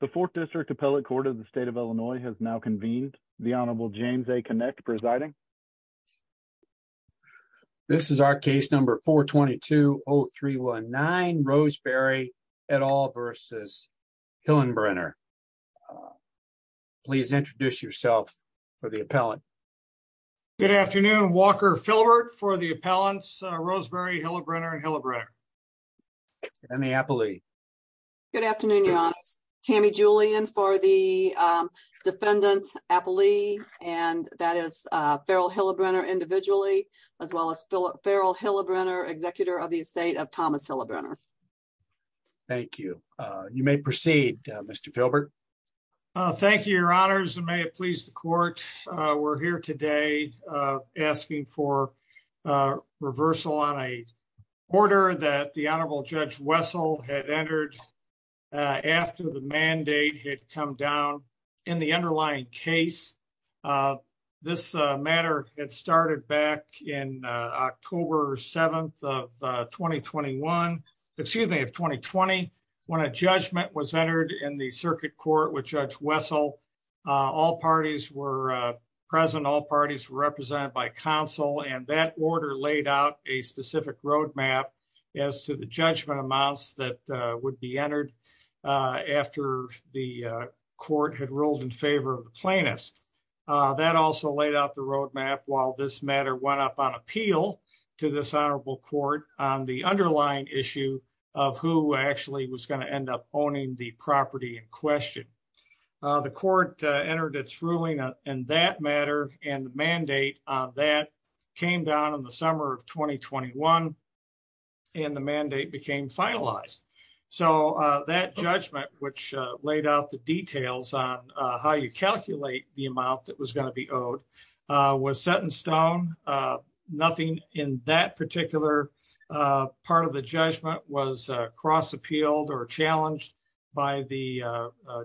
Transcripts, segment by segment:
The Fourth District Appellate Court of the State of Illinois has now convened. The Honorable James A. Kinect presiding. This is our case number 422-0319, Roseberry et al. v. Hillebrenner. Please introduce yourself for the appellant. Good afternoon. Walker Philbert for the appellants, Roseberry, Hillebrenner, and Hillebrenner. Tammy Appellee. Good afternoon, Your Honors. Tammy Julian for the defendant, Appellee, and that is Farrell Hillebrenner individually, as well as Farrell Hillebrenner, executor of the estate of Thomas Hillebrenner. Thank you. You may proceed, Mr. Philbert. Thank you, Your Honors, and may it please the court. We're here today asking for reversal on a order that the Honorable Judge Wessel had entered after the mandate had come down in the underlying case. This matter had started back in October 7th of 2021, excuse me, of 2020, when a judgment was entered in the circuit court with Judge Wessel. All parties were present, all parties were represented by counsel, and that order laid out a specific roadmap as to the judgment amounts that would be entered after the court had ruled in favor of the plaintiffs. That also laid out the roadmap while this matter went up on appeal to this Honorable Court on the underlying issue of who actually was going to end up owning the property in question. The court entered its ruling in that matter, and the mandate on that came down in the summer of 2021, and the mandate became finalized. That judgment, which laid out the details on how you calculate the amount that was going to be owed, was set in stone. Nothing in that particular part of the judgment was cross-appealed or challenged by the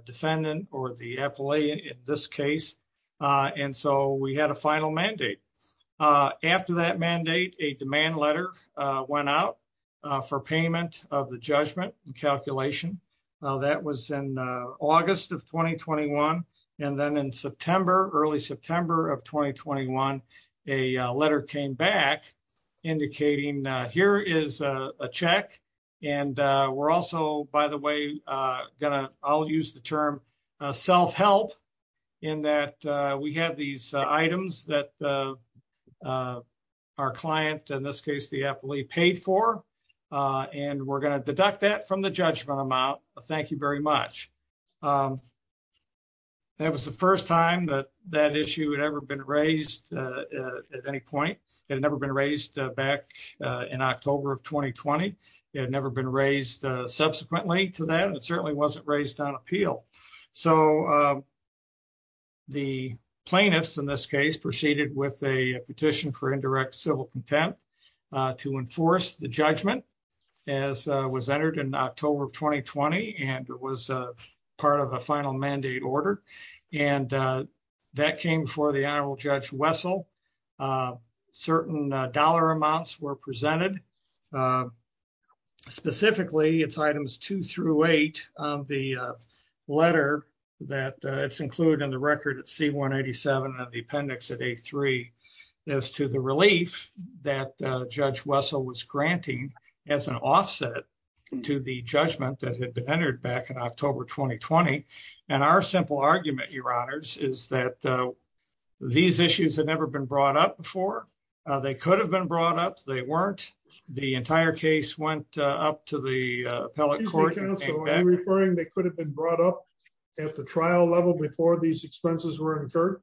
defendant or the appellee in this case, and so we had a final mandate. After that mandate, a demand letter went out for payment of the judgment and calculation. That was in August of 2021, and then in September, early September of 2021, a letter came back indicating here is a check. By the way, I'll use the term self-help in that we have these items that our client, in this case the appellee, paid for, and we're going to deduct that from the judgment amount. Thank you very much. That was the first time that that issue had ever been raised at any point. It had never been raised back in October of 2020. It had never been raised subsequently to that, and it certainly wasn't raised on appeal. The plaintiffs, in this case, proceeded with a petition for indirect civil contempt to enforce the judgment as was entered in October of 2020, and it was part of a final mandate order. That came before the Honorable Judge Wessel. Certain dollar amounts were presented. Specifically, it's items 2 through 8 of the letter that's included in the record at C-187 of the appendix at A-3. It's to the relief that Judge Wessel was granting as an offset to the judgment that had been entered back in October 2020, and our simple argument, Your Honors, is that these issues had never been brought up before. They could have been brought up. They weren't. The entire case went up to the appellate court. Are you referring they could have been brought up at the trial level before these expenses were incurred?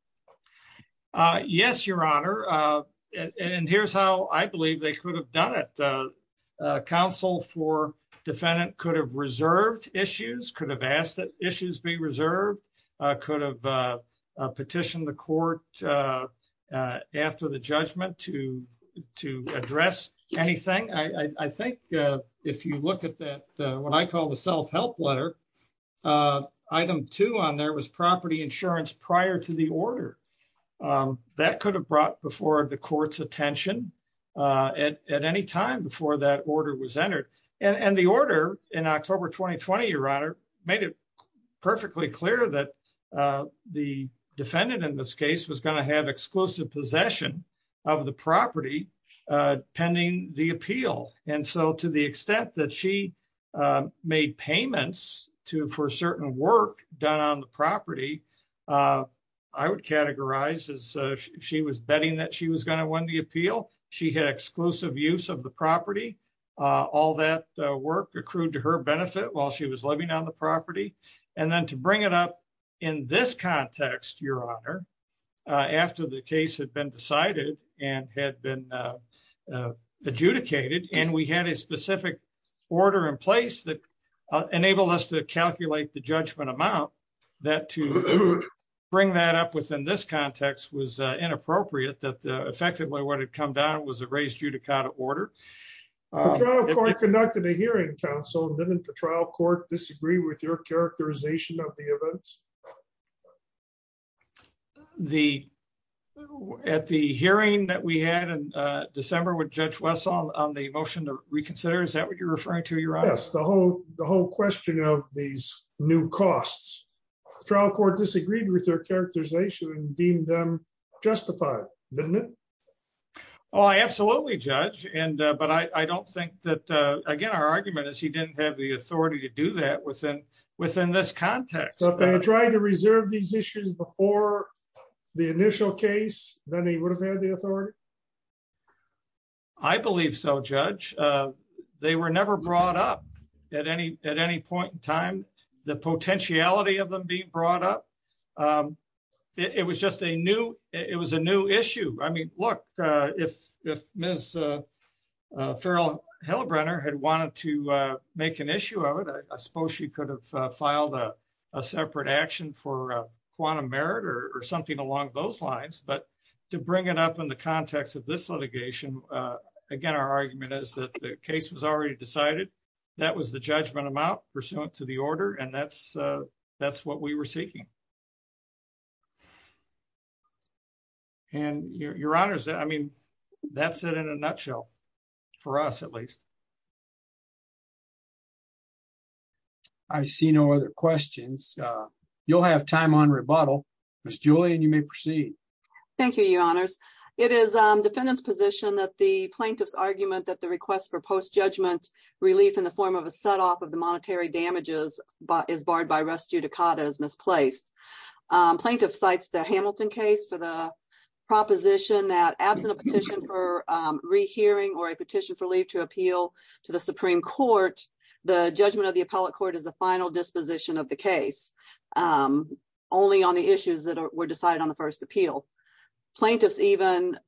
Yes, Your Honor, and here's how I believe they could have done it. The counsel for defendant could have reserved issues, could have asked that issues be reserved, could have petitioned the court after the judgment to address anything. I think if you look at what I call the self-help letter, item 2 on there was property insurance prior to the order. That could have brought before the court's attention at any time before that order was entered, and the order in October 2020, Your Honor, made it perfectly clear that the defendant in this case was going to have exclusive possession of the property pending the appeal. And so to the extent that she made payments for certain work done on the property, I would categorize as she was betting that she was going to win the appeal. She had exclusive use of the property. All that work accrued to her benefit while she was living on the property. And then to bring it up in this context, Your Honor, after the case had been decided and had been adjudicated, and we had a specific order in place that enabled us to calculate the judgment amount, that to bring that up within this context was inappropriate that effectively what had come down was a raised judicata order. The trial court conducted a hearing, counsel. Didn't the trial court disagree with your characterization of the events? At the hearing that we had in December with Judge Wessel on the motion to reconsider, is that what you're referring to, Your Honor? Yes, the whole question of these new costs. The trial court disagreed with their characterization and deemed them justified, didn't it? Oh, absolutely, Judge. But I don't think that, again, our argument is he didn't have the authority to do that within this context. But they tried to reserve these issues before the initial case, then he would have had the authority? I believe so, Judge. They were never brought up at any point in time. The potentiality of them being brought up, it was just a new issue. I mean, look, if Ms. Farrell-Hillebrenner had wanted to make an issue of it, I suppose she could have filed a separate action for quantum merit or something along those lines. But to bring it up in the context of this litigation, again, our argument is that the case was already decided. That was the judgment amount pursuant to the order, and that's what we were seeking. And, Your Honors, I mean, that's it in a nutshell. For us, at least. I see no other questions. You'll have time on rebuttal. Ms. Julian, you may proceed. Thank you, Your Honors. It is defendant's position that the plaintiff's argument that the request for post-judgment relief in the form of a set-off of the monetary damages is barred by res judicata is misplaced. Plaintiff cites the Hamilton case for the proposition that absent a petition for rehearing or a petition for leave to appeal to the Supreme Court, the judgment of the appellate court is the final disposition of the case, only on the issues that were decided on the first appeal. Plaintiffs even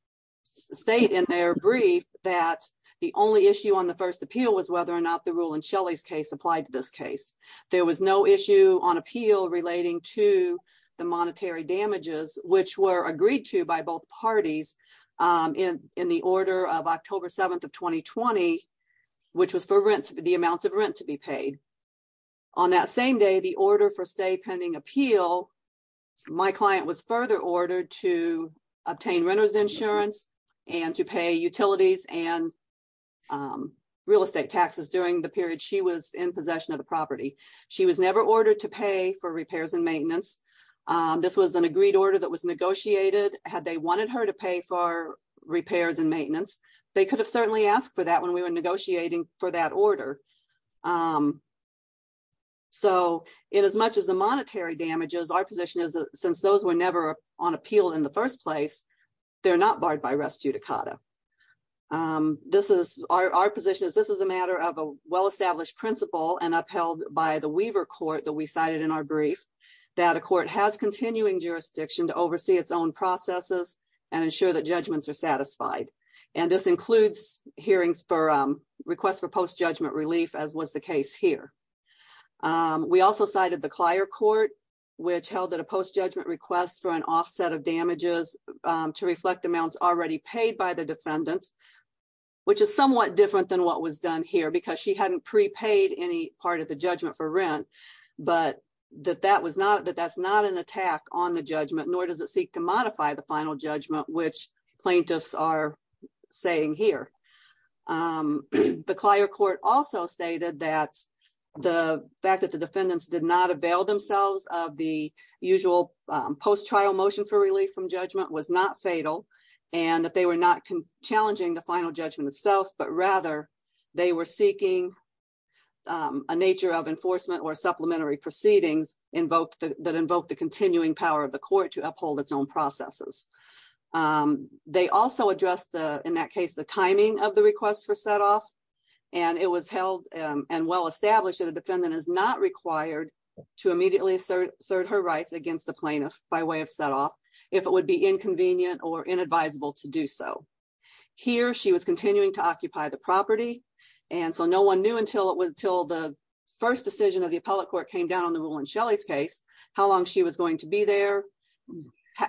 state in their brief that the only issue on the first appeal was whether or not the rule in Shelley's case applied to this case. There was no issue on appeal relating to the monetary damages, which were agreed to by both parties in the order of October 7th of 2020, which was for the amounts of rent to be paid. On that same day, the order for stay pending appeal, my client was further ordered to obtain renter's insurance and to pay utilities and real estate taxes during the period she was in possession of the property. She was never ordered to pay for repairs and maintenance. This was an agreed order that was negotiated. Had they wanted her to pay for repairs and maintenance, they could have certainly asked for that when we were negotiating for that order. So in as much as the monetary damages, our position is that since those were never on appeal in the first place, they're not barred by res judicata. This is our position is this is a matter of a well established principle and upheld by the Weaver court that we cited in our brief, that a court has continuing jurisdiction to oversee its own processes and ensure that judgments are satisfied. And this includes hearings for requests for post judgment relief, as was the case here. We also cited the Clier court, which held that a post judgment request for an offset of damages to reflect amounts already paid by the defendants. Which is somewhat different than what was done here because she hadn't prepaid any part of the judgment for rent, but that that was not that that's not an attack on the judgment, nor does it seek to modify the final judgment, which plaintiffs are saying here. The Clier court also stated that the fact that the defendants did not avail themselves of the usual post trial motion for relief from judgment was not fatal and that they were not challenging the final judgment itself, but rather they were seeking. A nature of enforcement or supplementary proceedings invoked that invoked the continuing power of the court to uphold its own processes. They also address the, in that case, the timing of the request for set off. And it was held and well established that a defendant is not required to immediately assert her rights against the plaintiff by way of set off if it would be inconvenient or inadvisable to do so. Here, she was continuing to occupy the property. And so no one knew until it was until the first decision of the appellate court came down on the rule in Shelley's case, how long she was going to be there.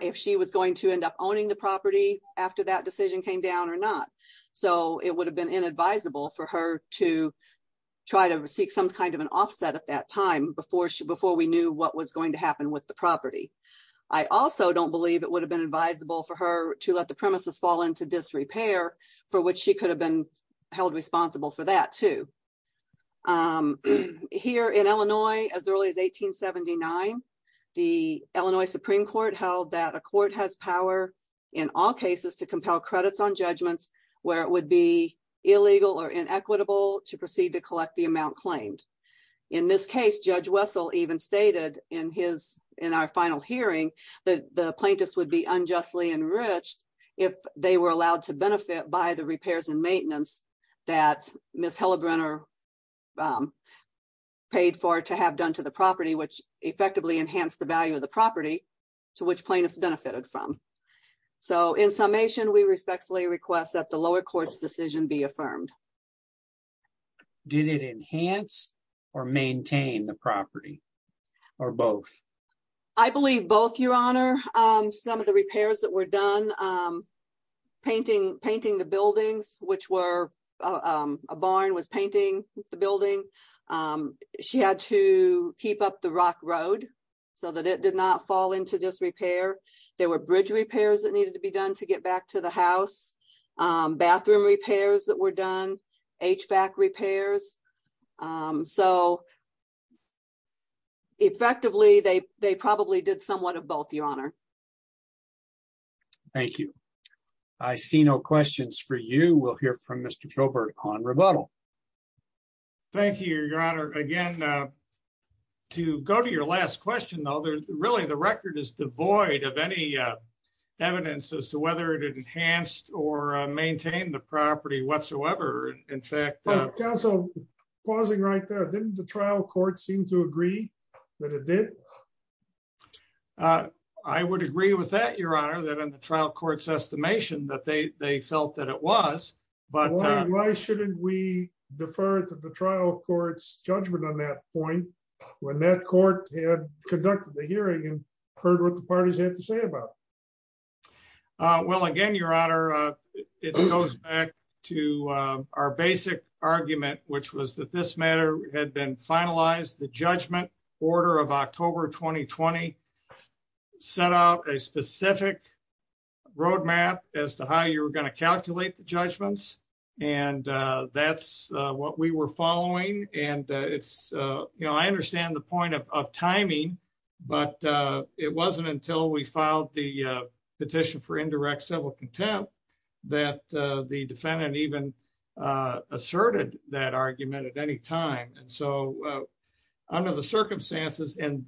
If she was going to end up owning the property after that decision came down or not. So it would have been inadvisable for her to try to seek some kind of an offset at that time before she before we knew what was going to happen with the property. I also don't believe it would have been advisable for her to let the premises fall into disrepair for which she could have been held responsible for that too. Here in Illinois, as early as 1879, the Illinois Supreme Court held that a court has power in all cases to compel credits on judgments, where it would be illegal or inequitable to proceed to collect the amount claimed. In this case, Judge Wessel even stated in his in our final hearing that the plaintiffs would be unjustly enriched if they were allowed to benefit by the repairs and maintenance that Miss Hellebrenner paid for to have done to the property which effectively enhanced the value of the property to which plaintiffs benefited from. So in summation, we respectfully request that the lower courts decision be affirmed. Did it enhance or maintain the property or both? I believe both, Your Honor. Some of the repairs that were done, painting the buildings, which were a barn was painting the building. She had to keep up the rock road so that it did not fall into disrepair. There were bridge repairs that needed to be done to get back to the house, bathroom repairs that were done, HVAC repairs. So effectively, they probably did somewhat of both, Your Honor. Thank you. I see no questions for you. We'll hear from Mr. Filbert on rebuttal. Thank you, Your Honor. Again, to go to your last question, though, really the record is devoid of any evidence as to whether it enhanced or maintained the property whatsoever. In fact... Counsel, pausing right there, didn't the trial court seem to agree that it did? I would agree with that, Your Honor, that in the trial court's estimation that they felt that it was. Why shouldn't we defer to the trial court's judgment on that point when that court had conducted the hearing and heard what the parties had to say about it? Well, again, Your Honor, it goes back to our basic argument, which was that this matter had been finalized. The judgment order of October 2020 set out a specific roadmap as to how you were going to calculate the judgments. And that's what we were following. I understand the point of timing, but it wasn't until we filed the petition for indirect civil contempt that the defendant even asserted that argument at any time. Under the circumstances in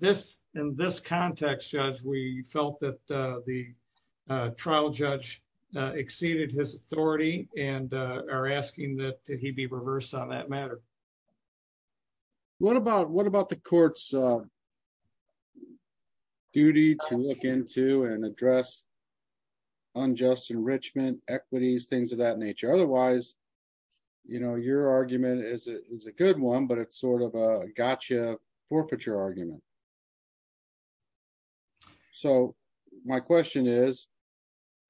this context, Judge, we felt that the trial judge exceeded his authority and are asking that he be reversed on that matter. What about the court's duty to look into and address unjust enrichment, equities, things of that nature? Otherwise, your argument is a good one, but it's sort of a gotcha forfeiture argument. So my question is,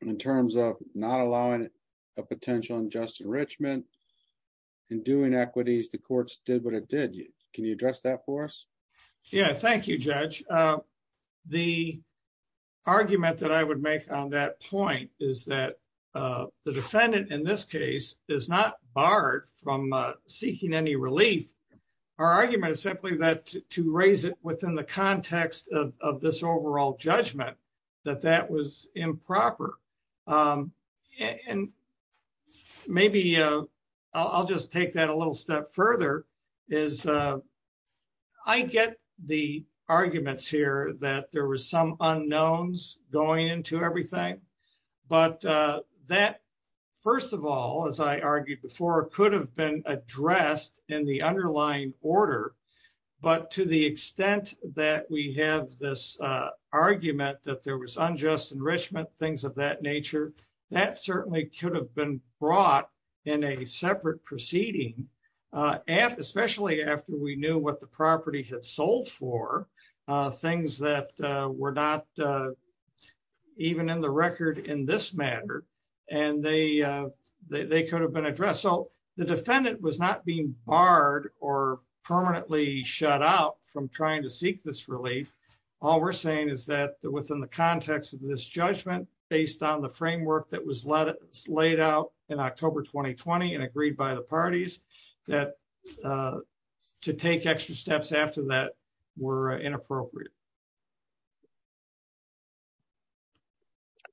in terms of not allowing a potential unjust enrichment and doing equities, the courts did what it did. Can you address that for us? Yeah, thank you, Judge. The argument that I would make on that point is that the defendant in this case is not barred from seeking any relief. Our argument is simply that to raise it within the context of this overall judgment, that that was improper. And maybe I'll just take that a little step further, is I get the arguments here that there was some unknowns going into everything. But that, first of all, as I argued before, could have been addressed in the underlying order. But to the extent that we have this argument that there was unjust enrichment, things of that nature, that certainly could have been brought in a separate proceeding. Especially after we knew what the property had sold for, things that were not even in the record in this matter, and they could have been addressed. So the defendant was not being barred or permanently shut out from trying to seek this relief. All we're saying is that within the context of this judgment, based on the framework that was laid out in October 2020 and agreed by the parties, that to take extra steps after that were inappropriate.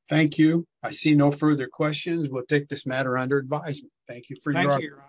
Thank you. I see no further questions. We'll take this matter under advisement. Thank you for your time.